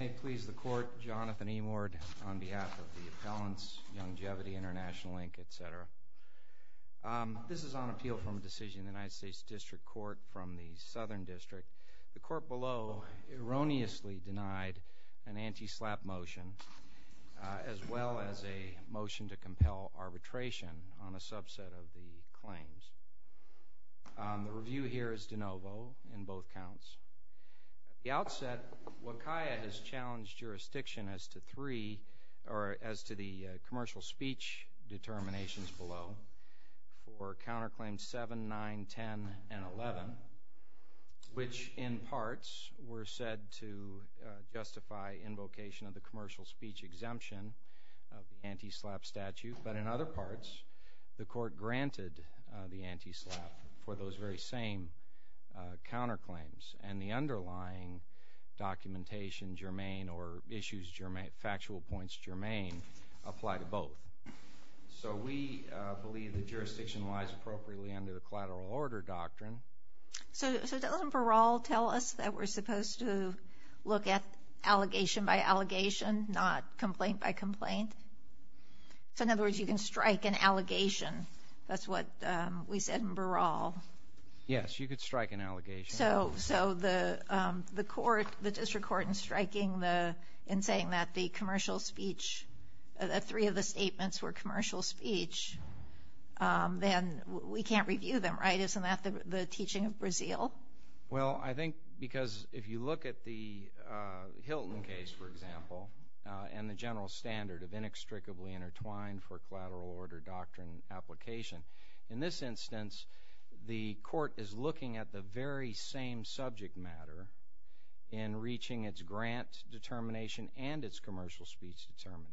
May it please the Court, Jonathan E. Moore on behalf of the Appellants, Yongevity, Int'l, etc. This is on appeal from a decision in the United States District Court from the Southern District. The court below erroneously denied an anti-SLAPP motion, as well as a motion to compel arbitration on a subset of the claims. The review here is de novo in both counts. At the outset, WCAIA has challenged jurisdiction as to the commercial speech determinations below for counterclaims 7, 9, 10, and 11, which in parts were said to justify invocation of the commercial speech exemption of the anti-SLAPP statute, but in other parts the anti-SLAPP for those very same counterclaims and the underlying documentation germane or issues factual points germane apply to both. So we believe that jurisdiction lies appropriately under a collateral order doctrine. So doesn't parole tell us that we're supposed to look at allegation by allegation, not complaint by complaint? So in other words, you can strike an allegation. That's what we said in Baral. Yes, you could strike an allegation. So the court, the district court, in striking the, in saying that the commercial speech, three of the statements were commercial speech, then we can't review them, right? Isn't that the teaching of Brazil? Well, I think because if you look at the Hilton case, for example, and the general standard of inextricably intertwined for collateral order doctrine application, in this instance, the court is looking at the very same subject matter in reaching its grant determination and its commercial speech determination.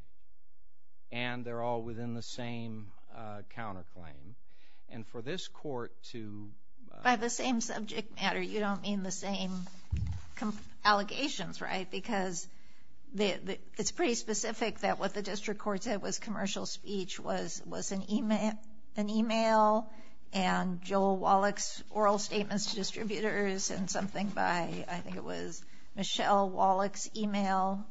And they're all within the same counterclaim. And for this court to... By the same subject matter, you don't mean the same allegations, right? Because it's pretty specific that what the district court said was commercial speech was an email and Joel Wallach's oral statements to distributors and something by, I think it was Michelle Wallach's email.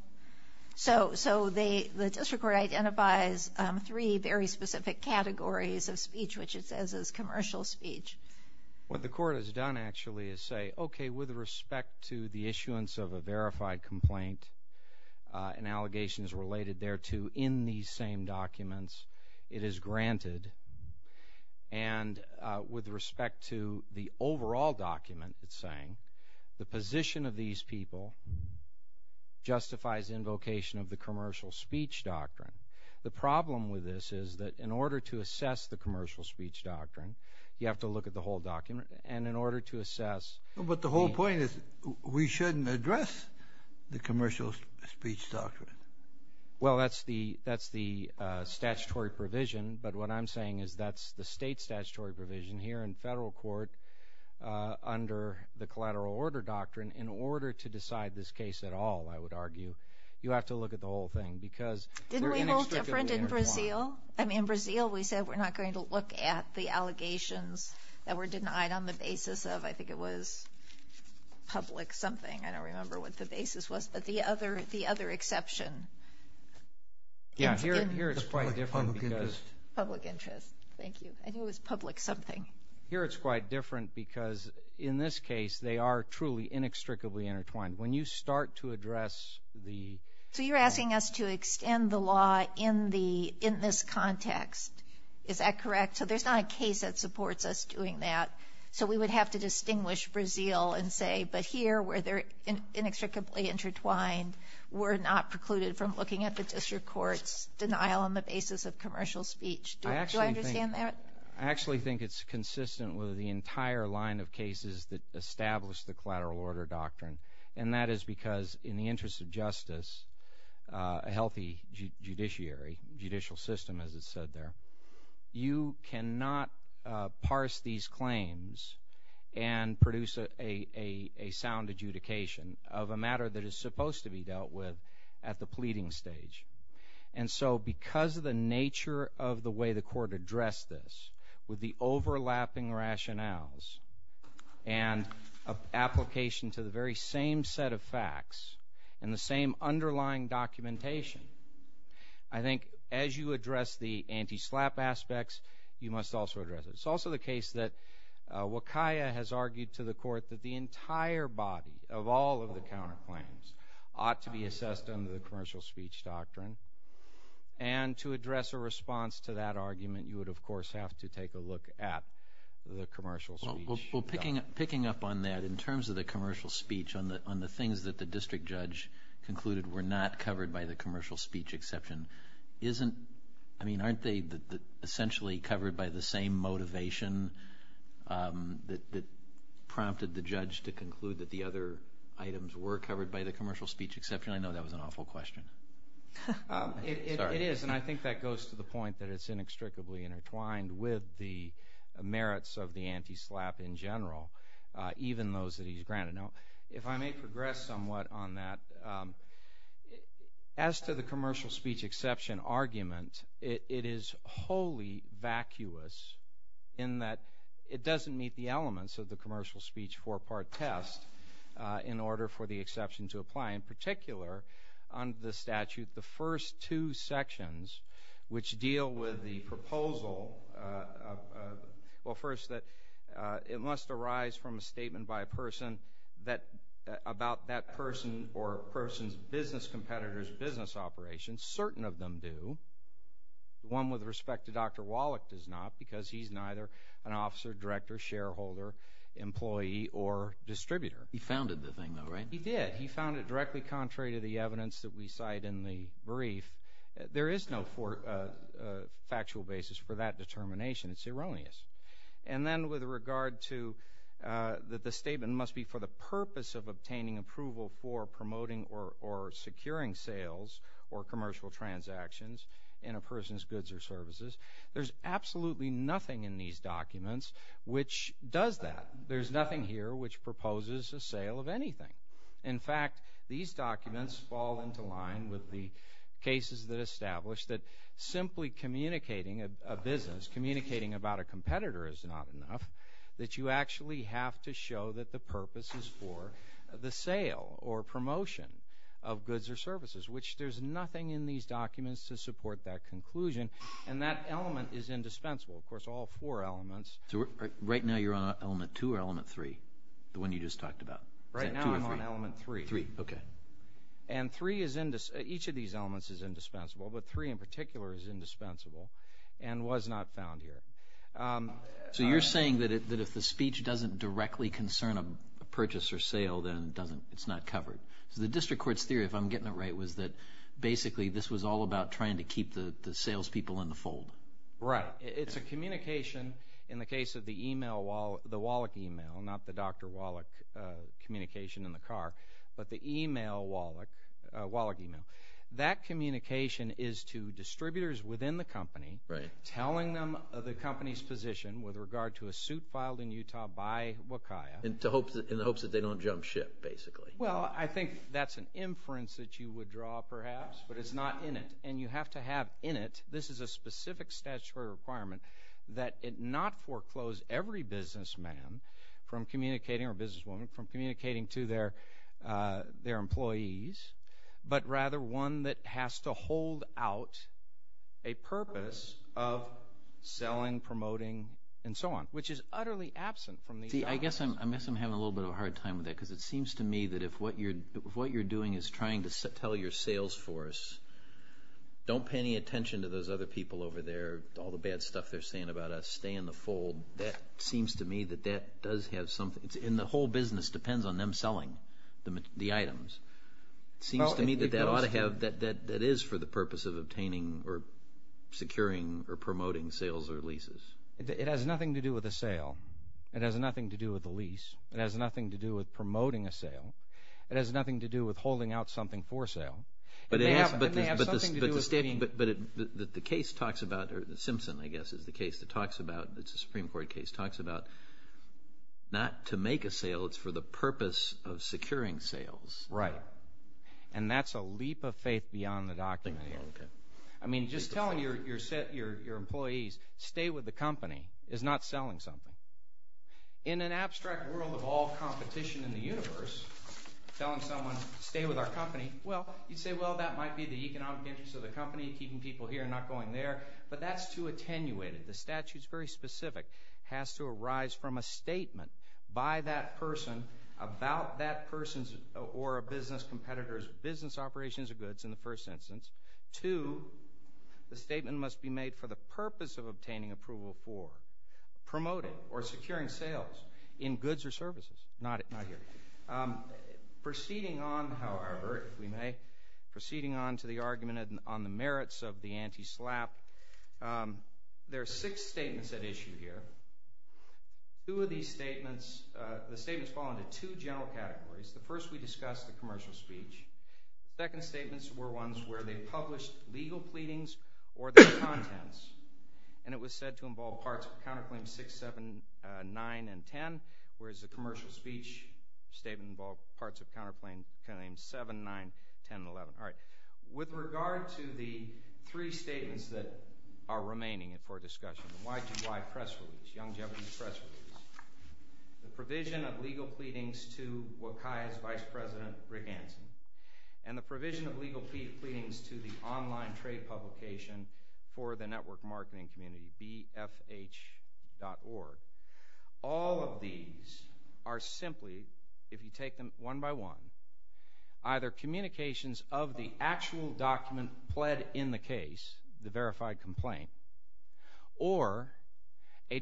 So the district court identifies three very specific categories of speech, which it says is commercial speech. What the court has done actually is say, okay, with respect to the issuance of a verified complaint and allegations related thereto in these same documents, it is granted. And with respect to the overall document it's saying, the position of these people justifies invocation of the commercial speech doctrine. The problem with this is that in order to assess the commercial speech doctrine, you have to look at the whole document. And in order to assess... But the whole point is we shouldn't address the commercial speech doctrine. Well, that's the statutory provision. But what I'm saying is that's the state statutory provision here in federal court under the collateral order doctrine. In order to decide this case at all, I would argue, you have to look at the whole thing because... Didn't we vote different in Brazil? I mean, in Brazil we said we're not going to look at the allegations that were denied on the basis of, I think it was public something. I don't remember what the basis was. But the other exception... Yeah, here it's quite different because... Public interest. Thank you. I think it was public something. Here it's quite different because in this case they are truly inextricably intertwined. When you start to address the... context. Is that correct? So there's not a case that supports us doing that. So we would have to distinguish Brazil and say, but here where they're inextricably intertwined, we're not precluded from looking at the district court's denial on the basis of commercial speech. Do I understand that? I actually think it's consistent with the entire line of cases that established the collateral order doctrine. And that is because in the interest of justice, a healthy judiciary, judicial system, as it said there, you cannot parse these claims and produce a sound adjudication of a matter that is supposed to be dealt with at the pleading stage. And so because of the nature of the way the court addressed this, with the overlapping rationales and application to the very same set of facts and the same underlying documentation, I think as you address the anti-slap aspects, you must also address it. It's also the case that Wakaya has argued to the court that the entire body of all of the counterclaims ought to be assessed under the commercial speech doctrine. And to address a response to that argument, you would, of course, have to take a look at the commercial speech doctrine. Well, picking up on that, in terms of the commercial speech, on the things that the district judge concluded were not covered by the commercial speech exception, isn't – I mean, aren't they essentially covered by the same motivation that prompted the judge to conclude that the other items were covered by the commercial speech exception? I know that was an awful question. Sorry. It is, and I think that goes to the point that it's inextricably intertwined with the merits of the anti-slap in general, even those that he's granted. Now, if I may progress somewhat on that, as to the commercial speech exception argument, it is wholly vacuous in that it doesn't meet the elements of the commercial speech four-part test in order for the exception to apply, in particular, under the statute, the first two sections, which deal with the proposal of – well, first, that it must arise from a statement by a person that – about that person or a person's business competitors' business operations. Certain of them do. One with respect to Dr. Wallach does not, because he's neither an officer, director, shareholder, employee, or distributor. He founded the thing, though, right? He did. He founded it directly contrary to the evidence that we cite in the brief. There is no factual basis for that determination. It's erroneous. And then with regard to that the statement must be for the purpose of obtaining approval for promoting or securing sales or commercial transactions in a person's goods or services, there's absolutely nothing in these documents which does that. There's nothing here which proposes a sale of anything. In fact, these documents fall into line with the cases that establish that simply communicating a business, communicating about a competitor is not enough, that you actually have to show that the purpose is for the sale or promotion of goods or services, which there's nothing in these documents to support that conclusion. And that element is indispensable, of course, all four elements. Right now you're on element two or element three, the one you just talked about? Right now I'm on element three. And three is, each of these elements is indispensable, but three in particular is indispensable and was not found here. So you're saying that if the speech doesn't directly concern a purchase or sale then it's not covered. So the district court's theory, if I'm getting it right, was that basically this was all about trying to keep the salespeople in the fold. Right. It's a communication in the case of the email, the Wallach email, not the Dr. Wallach communication in the car, but the email Wallach email. That communication is to distributors within the company, telling them of the company's position with regard to a suit filed in Utah by Wakaya. In the hopes that they don't jump ship, basically. Well, I think that's an inference that you would draw, perhaps, but it's not in it. And you have to have in it, this is a specific statutory requirement, that it not foreclose every businessman from communicating, or businesswoman, from communicating to their employees, but rather one that has to hold out a purpose of selling, promoting, and so on, which is utterly absent from these documents. See, I guess I'm having a little bit of a hard time with that because it seems to me that if what you're doing is trying to tell your sales force, don't pay any attention to those other people over there, all the bad stuff they're saying about us, stay in the fold. That seems to me that that does have something, and the whole business depends on them selling the items. It seems to me that that is for the purpose of obtaining, or securing, or promoting sales or leases. It has nothing to do with the sale, it has nothing to do with the lease, it has nothing to do with promoting a sale, it has nothing to do with holding out something for sale. But the case talks about, or the Simpson, I guess, is the case that talks about, it's a Supreme Court case, talks about not to make a sale, it's for the purpose of securing sales. Right. And that's a leap of faith beyond the document here. I mean, just telling your employees, stay with the company, is not selling something. In an abstract world of all competition in the universe, telling someone, stay with our company, well, you'd say, well, that might be the economic interest of the company, keeping people here and not going there, but that's too attenuated, the statute's very specific, has to arise from a statement by that person, about that person's, or a business competitor's business operations of goods, in the first instance, to, the statement must be made for the purpose of obtaining approval for, promoting, or securing sales in goods or services, not here. Proceeding on, however, if we may, proceeding on to the argument on the merits of the anti-SLAPP, there are six statements at issue here. Two of these statements, the statements fall into two general categories, the first we discussed, the commercial speech, the second statements were ones where they published legal pleadings or their contents, and it was said to involve parts of counterclaims 6, 7, 9, and 10, whereas the commercial speech statement involved parts of counterclaim 7, 9, 10, and 11. All right. With regard to the three statements that are remaining for discussion, the YTY press release, Young Jevons press release, the provision of legal pleadings to Wakaya's Vice President Rick Hansen, and the provision of legal pleadings to the online trade publication for the network marketing community, BFH.org, all of these are simply, if you take them one by one, either communications of the actual document pled in the case, the verified complaint, or a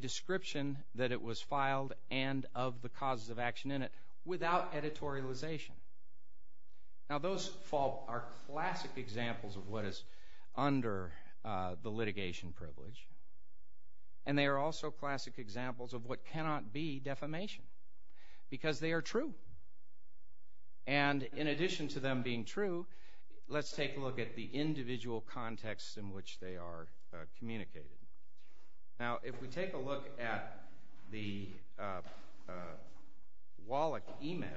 Now those are classic examples of what is under the litigation privilege, and they are also classic examples of what cannot be defamation, because they are true. And in addition to them being true, let's take a look at the individual contexts in which they are communicated. Now, if we take a look at the Wallach email,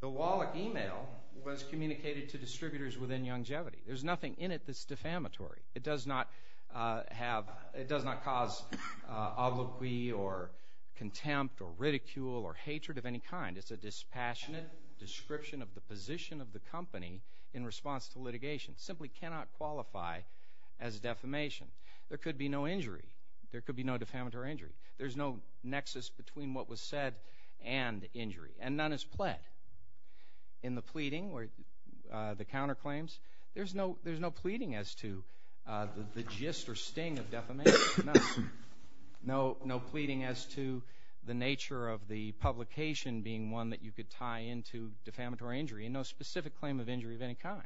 the Wallach email was communicated to distributors within Young Jevity. There's nothing in it that's defamatory. It does not cause obloquy or contempt or ridicule or hatred of any kind. It's a dispassionate description of the position of the company in response to litigation. It simply cannot qualify as defamation. There could be no injury. There could be no defamatory injury. There's no nexus between what was said and injury, and none is pled. In the pleading or the counterclaims, there's no pleading as to the gist or sting of defamation. No pleading as to the nature of the publication being one that you could tie into defamatory injury, and no specific claim of injury of any kind.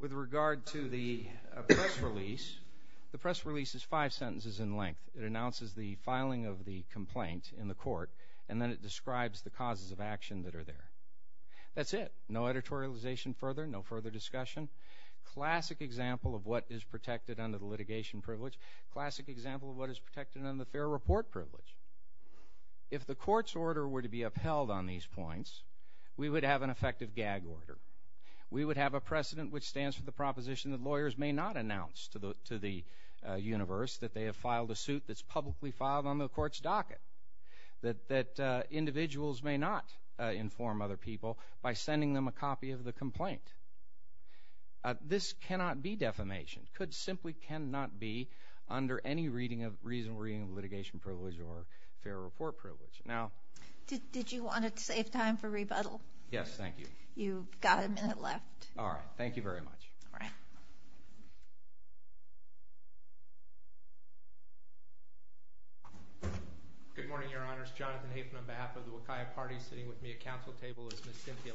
With regard to the press release, the press release is five sentences in length. It announces the filing of the complaint in the court, and then it describes the causes of action that are there. That's it. No editorialization further. No further discussion. Classic example of what is protected under the litigation privilege. Classic example of what is protected under the fair report privilege. If the court's order were to be upheld on these points, we would have an effective gag order. We would have a precedent which stands for the proposition that lawyers may not announce to the universe that they have filed a suit that's publicly filed on the court's docket, that individuals may not inform other people by sending them a copy of the complaint. This cannot be defamation. It simply cannot be under any reasonable reading of litigation privilege or fair report privilege. Did you want to save time for rebuttal? Yes. Thank you. You've got a minute left. All right. Thank you very much. All right. Good morning, Your Honor. It's Jonathan Hafen on behalf of the Wakaiya Party sitting with me at counsel table. It's Ms. Cynthia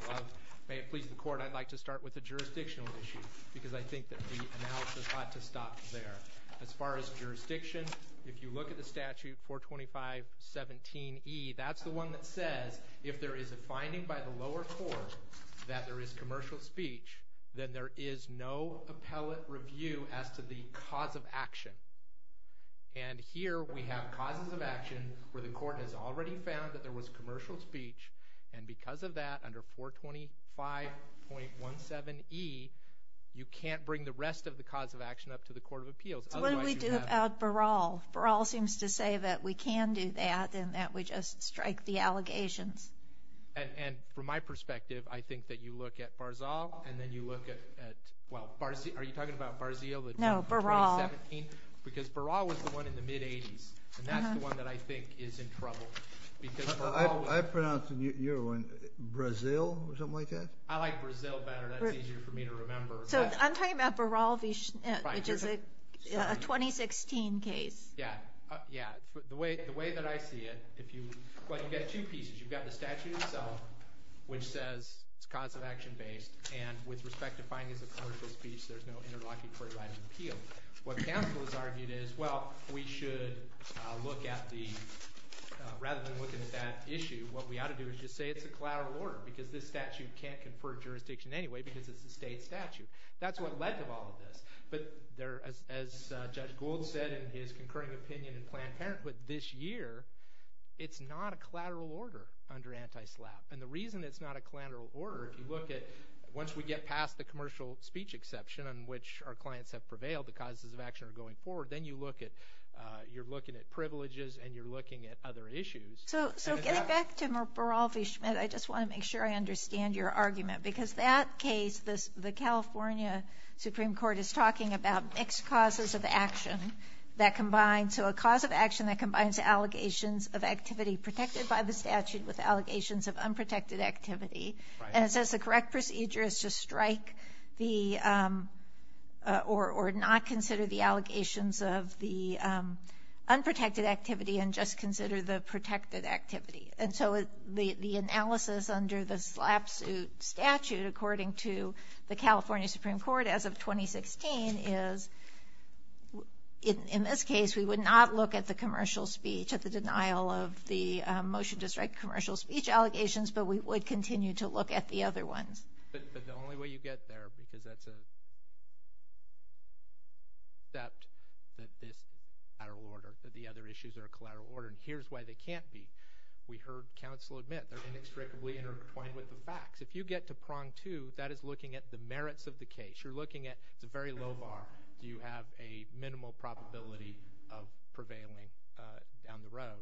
Love. that the analysis of this case is very important. As far as jurisdiction, if you look at the statute 425.17e, that's the one that says if there is a finding by the lower court that there is commercial speech, then there is no appellate review as to the cause of action. And here we have causes of action where the court has already found that there was commercial speech. So what do we do about Baral? Baral seems to say that we can do that and that we just strike the allegations. And from my perspective, I think that you look at Barzal and then you look at, well, are you talking about Barzil? No, Baral. Because Baral was the one in the mid-eighties. And that's the one that I think is in trouble. I pronounce your one Brazil or something like that? I like Brazil better. That's easier for me to remember. So I'm talking about Baral. Yeah. The way that I see it, if you, well, you've got two pieces. You've got the statute itself, which says it's cause of action based. And with respect to findings of commercial speech, there's no interlocutory writing appeal. What counsel has argued is, well, we should look at the, rather than looking at that issue, what we ought to do is just say it's a collateral order. Because this statute can't confer jurisdiction anyway because it's a state statute. That's what led to all of this. But there, as Judge Gould said in his concurring opinion in Planned Parenthood this year, it's not a collateral order under anti-SLAPP. And the reason it's not a collateral order, if you look at, once we get past the commercial speech exception on which our clients have prevailed, the causes of action are going forward, then you look at, you're looking at privileges and you're looking at other issues. So getting back to Baral v. Schmidt, I just want to make sure I understand your argument. Because that case, the California Supreme Court is talking about mixed causes of action that combine. So a cause of action that combines allegations of activity protected by the statute with allegations of unprotected activity. And it says the correct procedure is to strike the, or not consider the allegations of the unprotected activity and just consider the protected activity. And so the analysis under the SLAPP suit statute, according to the California Supreme Court as of 2016, is, in this case, we would not look at the commercial speech, at the denial of the motion to strike commercial speech allegations, but we would continue to look at the other ones. But the only way you get there, because that's a, that this is a collateral order, that the other issues are a collateral order, and here's why they can't be. We heard counsel admit they're inextricably intertwined with the facts. If you get to prong two, that is looking at the merits of the case. You're looking at, it's a very low bar, you have a minimal probability of prevailing down the road.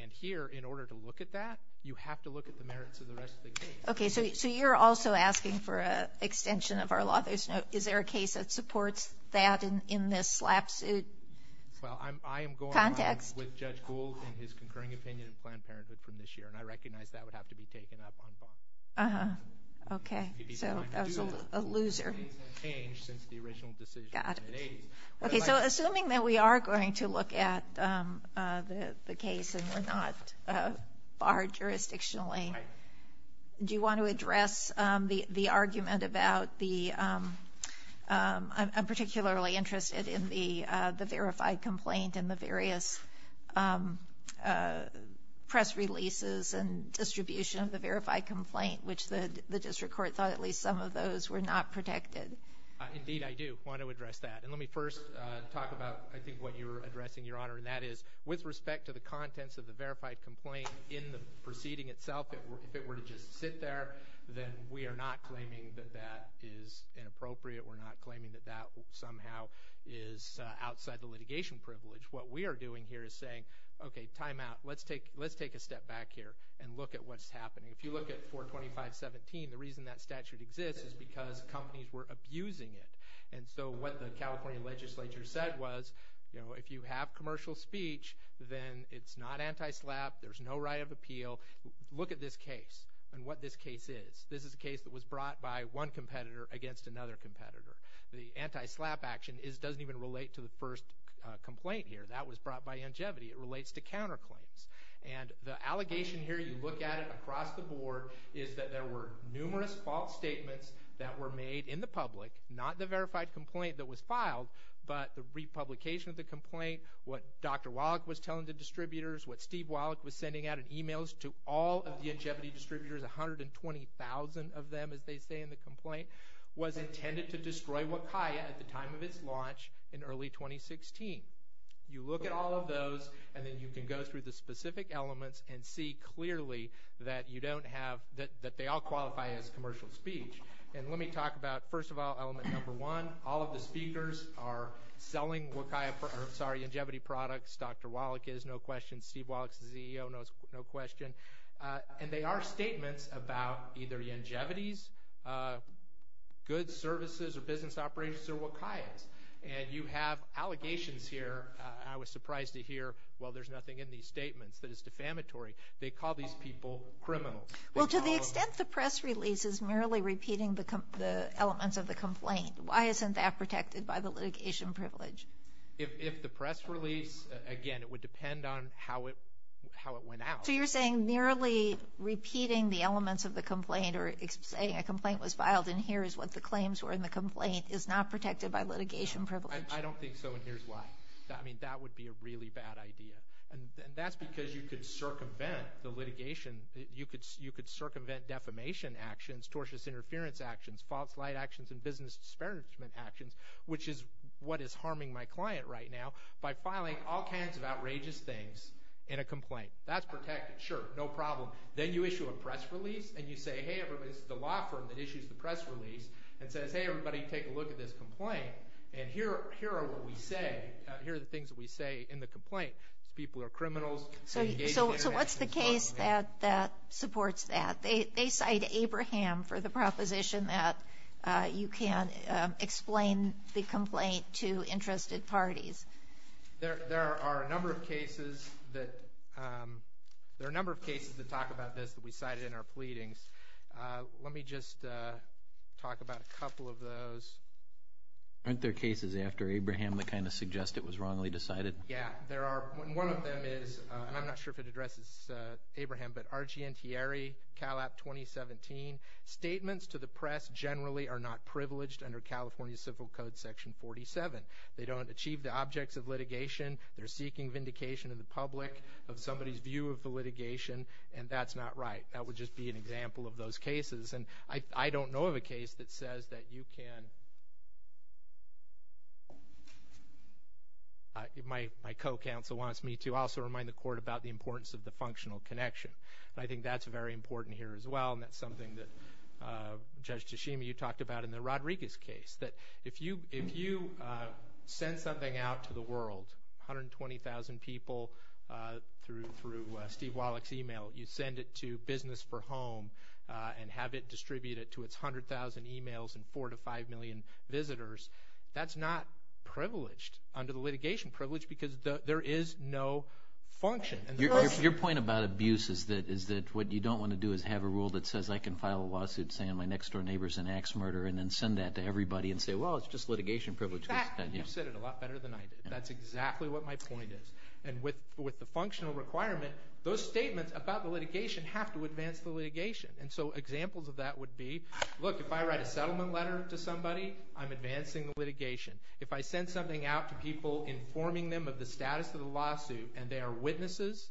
And here, in order to look at that, you have to look at the merits of the rest of the case. Okay, so you're also asking for an extension of our law. There's no, is there a case that supports that in this SLAPP suit context? Well, I'm, I am going on with Judge Gould and his concurring opinion of Planned Parenthood from this year, and I recognize that would have to be taken up on bond. Uh-huh. Okay. So, that's a loser. The case has changed since the original decision in the 1980s. Okay, so assuming that we are going to look at the case and we're not barred jurisdictionally, do you want to address the argument about the, I'm particularly interested in the, the verified complaint and the various, um, uh, press releases and distribution of the verified complaint, which the, the district court thought at least some of those were not protected? Uh, indeed I do want to address that. And let me first, uh, talk about, I think, what you're addressing, Your Honor, and that is, with respect to the contents of the verified complaint in the proceeding itself, if it were to just sit there, then we are not claiming that that is inappropriate, we're not claiming that that somehow is, uh, outside the litigation privilege. What we are doing here is saying, okay, timeout, let's take, let's take a step back here and look at what's happening. If you look at 425.17, the reason that statute exists is because companies were abusing it. And so, what the California legislature said was, you know, if you have commercial speech then it's not anti-SLAPP, there's no right of appeal, look at this case and what this case is. This is a case that was brought by one competitor against another competitor. The anti-SLAPP action is, doesn't even relate to the first complaint here, that was brought by Ingevity, it relates to counterclaims. And the allegation here, you look at it across the board, is that there were numerous false statements that were made in the public, not the verified complaint that was filed, but the republication of the complaint, what Dr. Wallach was telling the distributors, what Steve Wallach was sending out in emails to all of the Ingevity distributors, 120,000 of them, as they say in the complaint, was intended to destroy WCAIA at the time of its launch in early 2016. You look at all of those and then you can go through the specific elements and see clearly that you don't have, that they all qualify as commercial speech. And let me talk about, first of all, element number one, all of the speakers are selling WCAIA, sorry, Ingevity products, Dr. Wallach is, no question, Steve Wallach is the CEO, no question, and they are statements about either Ingevity's goods, services, or business operations, or WCAIA's. And you have allegations here, I was surprised to hear, well there's nothing in these statements that is defamatory. They call these people criminals. Well, to the extent the press release is merely repeating the elements of the complaint, why isn't that protected by the litigation privilege? If the press release, again, it would depend on how it went out. So you're saying merely repeating the elements of the complaint, or saying a complaint was filed and here is what the claims were in the complaint, is not protected by litigation privilege? I don't think so, and here's why. I mean, that would be a really bad idea, and that's because you could circumvent the litigation, you could circumvent defamation actions, tortious interference actions, false light actions, and business disparagement actions, which is what is harming my client right now, by filing all kinds of outrageous things in a complaint. That's protected. Sure, no problem. Then you issue a press release, and you say, hey everybody, this is the law firm that issues the press release, and says, hey everybody, take a look at this complaint, and here are what we say, here are the things that we say in the complaint. People are criminals. So what's the case that supports that? They cite Abraham for the proposition that you can't explain the complaint to interested parties. There are a number of cases that, there are a number of cases that talk about this that we cited in our pleadings. Let me just talk about a couple of those. Aren't there cases after Abraham that kind of suggest it was wrongly decided? Yeah, there are. One of them is, and I'm not sure if it addresses Abraham, but R.G. Ntieri, Cal App 2017, statements to the press generally are not privileged under California Civil Code section 47. They don't achieve the objects of litigation, they're seeking vindication of the public, of somebody's view of the litigation, and that's not right. That would just be an example of those cases, and I don't know of a case that says that you can, my co-counsel wants me to also remind the court about the importance of the functional connection. And I think that's very important here as well, and that's something that Judge Tashima you talked about in the Rodriguez case, that if you send something out to the world, 120,000 people through Steve Wallach's email, you send it to Business for Home and have it distributed to its 100,000 emails and 4 to 5 million visitors, that's not privileged under the litigation privilege because there is no function. Your point about abuse is that what you don't want to do is have a rule that says I can file a lawsuit saying my next door neighbor's an axe murderer and then send that to everybody and say, well, it's just litigation privilege. You said it a lot better than I did. That's exactly what my point is. And with the functional requirement, those statements about the litigation have to advance the litigation. And so examples of that would be, look, if I write a settlement letter to somebody, I'm advancing the litigation. If I send something out to people informing them of the status of the lawsuit and they are witnesses,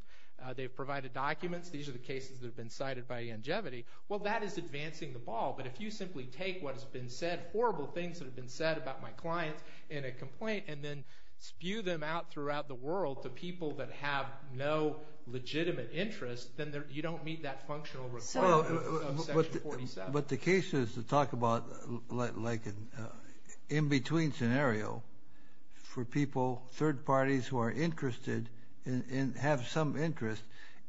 they've provided documents, these are the cases that have been cited by longevity, well, that is advancing the ball. But if you simply take what has been said, horrible things that have been said about my clients in a complaint and then spew them out throughout the world to people that have no legitimate interest, then you don't meet that functional requirement. But the case is to talk about like an in-between scenario for people, third parties who are interested and have some interest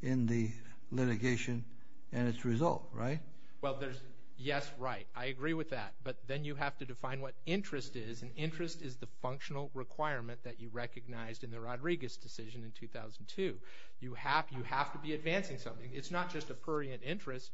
in the litigation and its result, right? Well, there's yes, right. I agree with that. But then you have to define what interest is. And interest is the functional requirement that you recognized in the Rodriguez decision in 2002. You have you have to be advancing something. It's not just a prurient interest.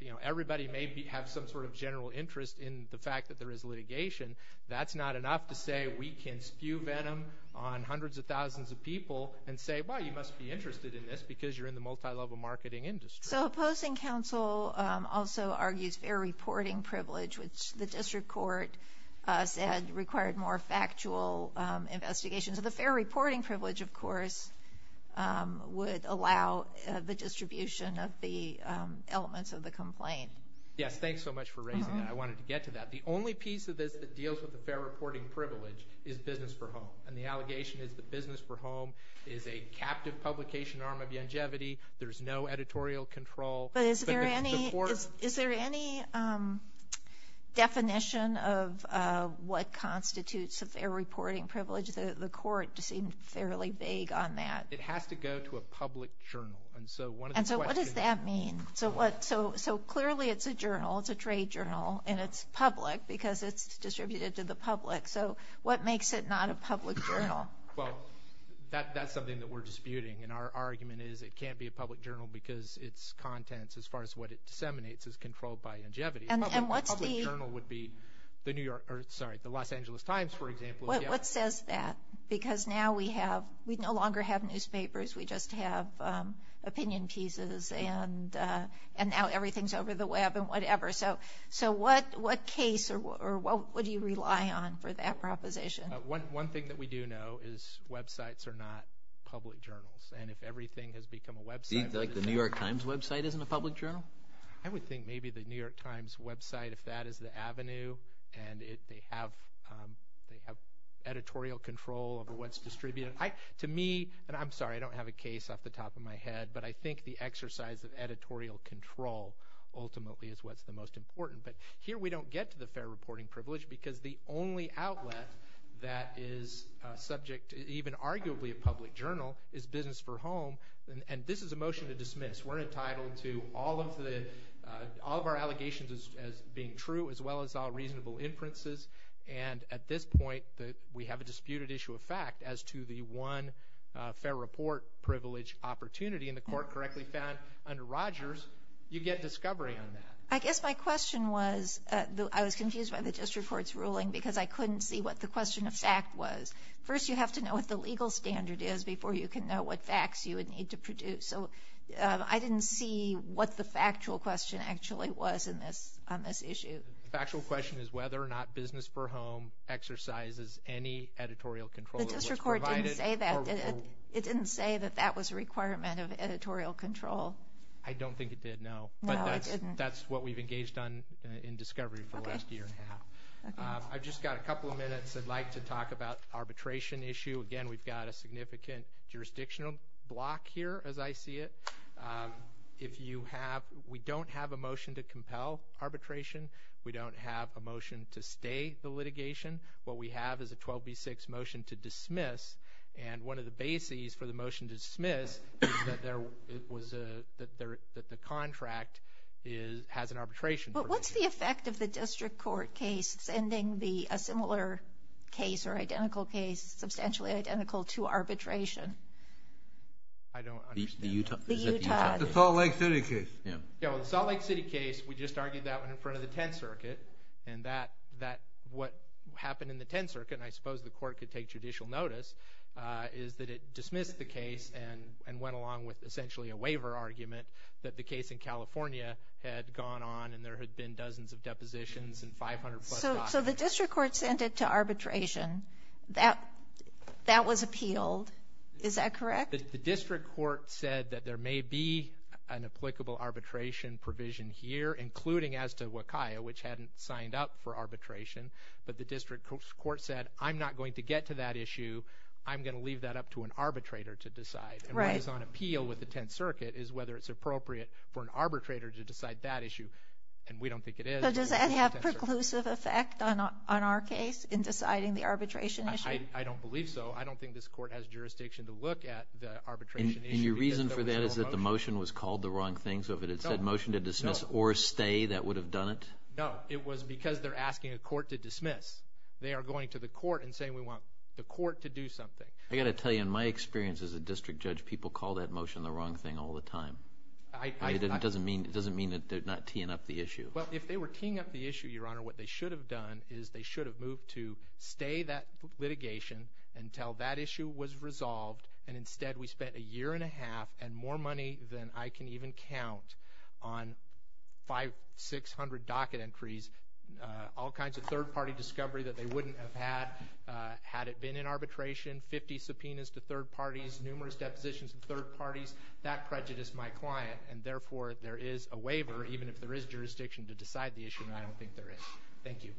You know, everybody may have some sort of general interest in the fact that there is litigation. That's not enough to say we can spew venom on hundreds of thousands of people and say, well, you must be interested in this because you're in the multilevel marketing industry. So opposing counsel also argues fair reporting privilege, which the district court said required more factual investigations of the fair reporting privilege, of course, would allow the distribution of the elements of the complaint. Yes. Thanks so much for raising that. I wanted to get to that. The only piece of this that deals with the fair reporting privilege is business for home. And the allegation is the business for home is a captive publication arm of longevity. There's no editorial control. But is there any is there any definition of what constitutes a fair reporting privilege? The court seemed fairly vague on that. It has to go to a public journal. And so what does that mean? So what so so clearly it's a journal. It's a trade journal and it's public because it's distributed to the public. So what makes it not a public journal? Well, that's something that we're disputing. And our argument is it can't be a public journal because its contents, as far as what it disseminates, is controlled by longevity. And what's the journal would be the New York or sorry, the Los Angeles Times, for example. What says that? Because now we have we no longer have newspapers. We just have opinion pieces and and now everything's over the web and whatever. So so what what case or what do you rely on for that proposition? One thing that we do know is websites are not public journals. And if everything has become a website like the New York Times website, isn't a public journal. I would think maybe the New York Times website, if that is the what's distributed to me and I'm sorry, I don't have a case off the top of my head, but I think the exercise of editorial control ultimately is what's the most important. But here we don't get to the fair reporting privilege because the only outlet that is subject to even arguably a public journal is business for home. And this is a motion to dismiss. We're entitled to all of the all of our allegations as being true, as well as all disputed issue of fact as to the one fair report privilege opportunity in the court correctly found under Rogers. You get discovery on that. I guess my question was I was confused by the district court's ruling because I couldn't see what the question of fact was. First, you have to know what the legal standard is before you can know what facts you would need to produce. So I didn't see what the factual question actually was in this on this issue. The factual question is whether or not business for home exercises any editorial control. The district court didn't say that it didn't say that that was a requirement of editorial control. I don't think it did. No, but that's what we've engaged on in discovery for the last year and a half. I've just got a couple of minutes. I'd like to talk about arbitration issue again. We've got a significant jurisdictional block here, as I see it. If you have we don't have a motion to compel arbitration, we don't have a motion to stay the litigation. What we have is a 12 B6 motion to dismiss. And one of the bases for the motion to dismiss that there was a that the contract is has an arbitration. But what's the effect of the district court case sending the a similar case or identical case, substantially identical to arbitration? I don't think the Utah, the Utah, the Salt Lake City case, you know, the Salt Lake City case, we just argued that one in front of the 10th Circuit and that that what happened in the 10th Circuit, and I suppose the court could take judicial notice, is that it dismissed the case and and went along with essentially a waiver argument that the case in California had gone on and there had been dozens of depositions and 500. So the district court sent it to arbitration that that was appealed. Is that correct? The district court said that there may be an applicable arbitration provision here, including as to what kind of which hadn't signed up for arbitration. But the district court said, I'm not going to get to that issue. I'm going to leave that up to an arbitrator to decide. Right. It's on appeal with the 10th Circuit is whether it's appropriate for an arbitrator to decide that issue. And we don't think it is. Does that have preclusive effect on on our case in deciding the arbitration? I don't believe so. I don't think this court has jurisdiction to look at the arbitration. And your reason for that is that the motion was called the wrong thing. So if it had said motion to dismiss or stay, that would have done it. No, it was because they're asking a court to dismiss. They are going to the court and saying we want the court to do something. I got to tell you, in my experience as a district judge, people call that motion the wrong thing all the time. I doesn't mean it doesn't mean that they're not teeing up the issue. Well, if they were teeing up the issue, Your Honor, what they should have done is they should have moved to stay that litigation until that issue was resolved. And instead, we spent a year and a half and more money than I can even count on five, six hundred docket entries, all kinds of third party discovery that they wouldn't have had had it been in arbitration, 50 subpoenas to third parties, numerous depositions in third parties that prejudiced my client. And therefore, there is a waiver, even if there is jurisdiction to decide the issue. And I don't think there is. Thank you.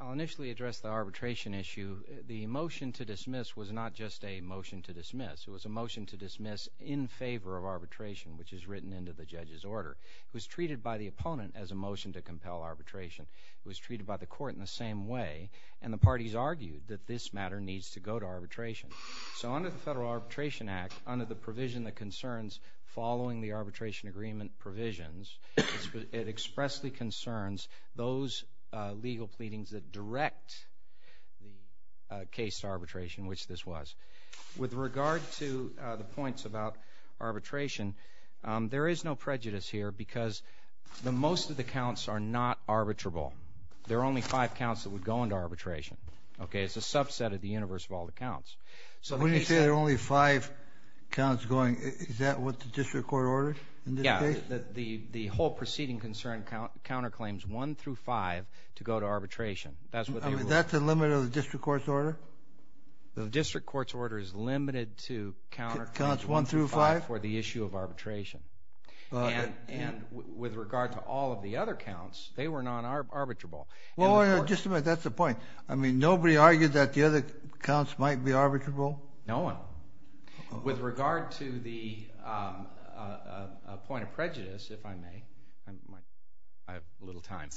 I'll initially address the arbitration issue. The motion to dismiss was not just a motion to dismiss. It was a motion to dismiss in favor of arbitration, which is written into the judge's order. It was treated by the opponent as a motion to compel arbitration. It was treated by the court in the same way. And the parties argued that this matter needs to go to arbitration. So under the Federal Arbitration Act, under the provision that concerns following the arbitration agreement provisions, it expressly concerns those legal pleadings that direct the case to arbitration, which this was. With regard to the points about arbitration, there is no prejudice here because the most of the counts are not arbitrable. There are only five counts that would go into arbitration. OK, it's a subset of the universe of all the counts. So when you say there are only five counts going, is that what the district court ordered in this case? Yeah, the whole proceeding concern counterclaims one through five to go to arbitration. That's what they ruled. That's a limit of the district court's order? The district court's order is limited to counterclaims one through five for the issue of arbitration. And with regard to all of the other counts, they were non-arbitrable. Well, just a minute. That's the point. I mean, nobody argued that the other counts might be arbitrable? No one. With regard to the point of prejudice, if I may, I have a little time.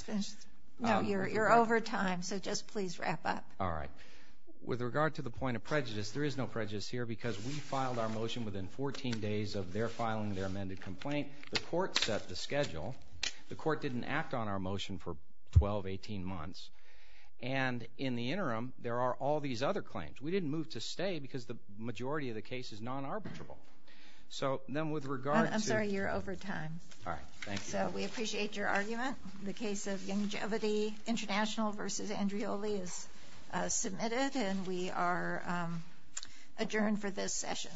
No, you're over time, so just please wrap up. All right. With regard to the point of prejudice, there is no prejudice here because we filed our motion within 14 days of their filing their amended complaint. The court set the schedule. The court didn't act on our motion for 12, 18 months. And in the interim, there are all these other claims. We didn't move to stay because the majority of the case is non-arbitrable. So then with regard to... I'm sorry, you're over time. All right. Thank you. So we appreciate your argument. The case of Langevity International versus Andreoli is submitted and we are adjourned for this session.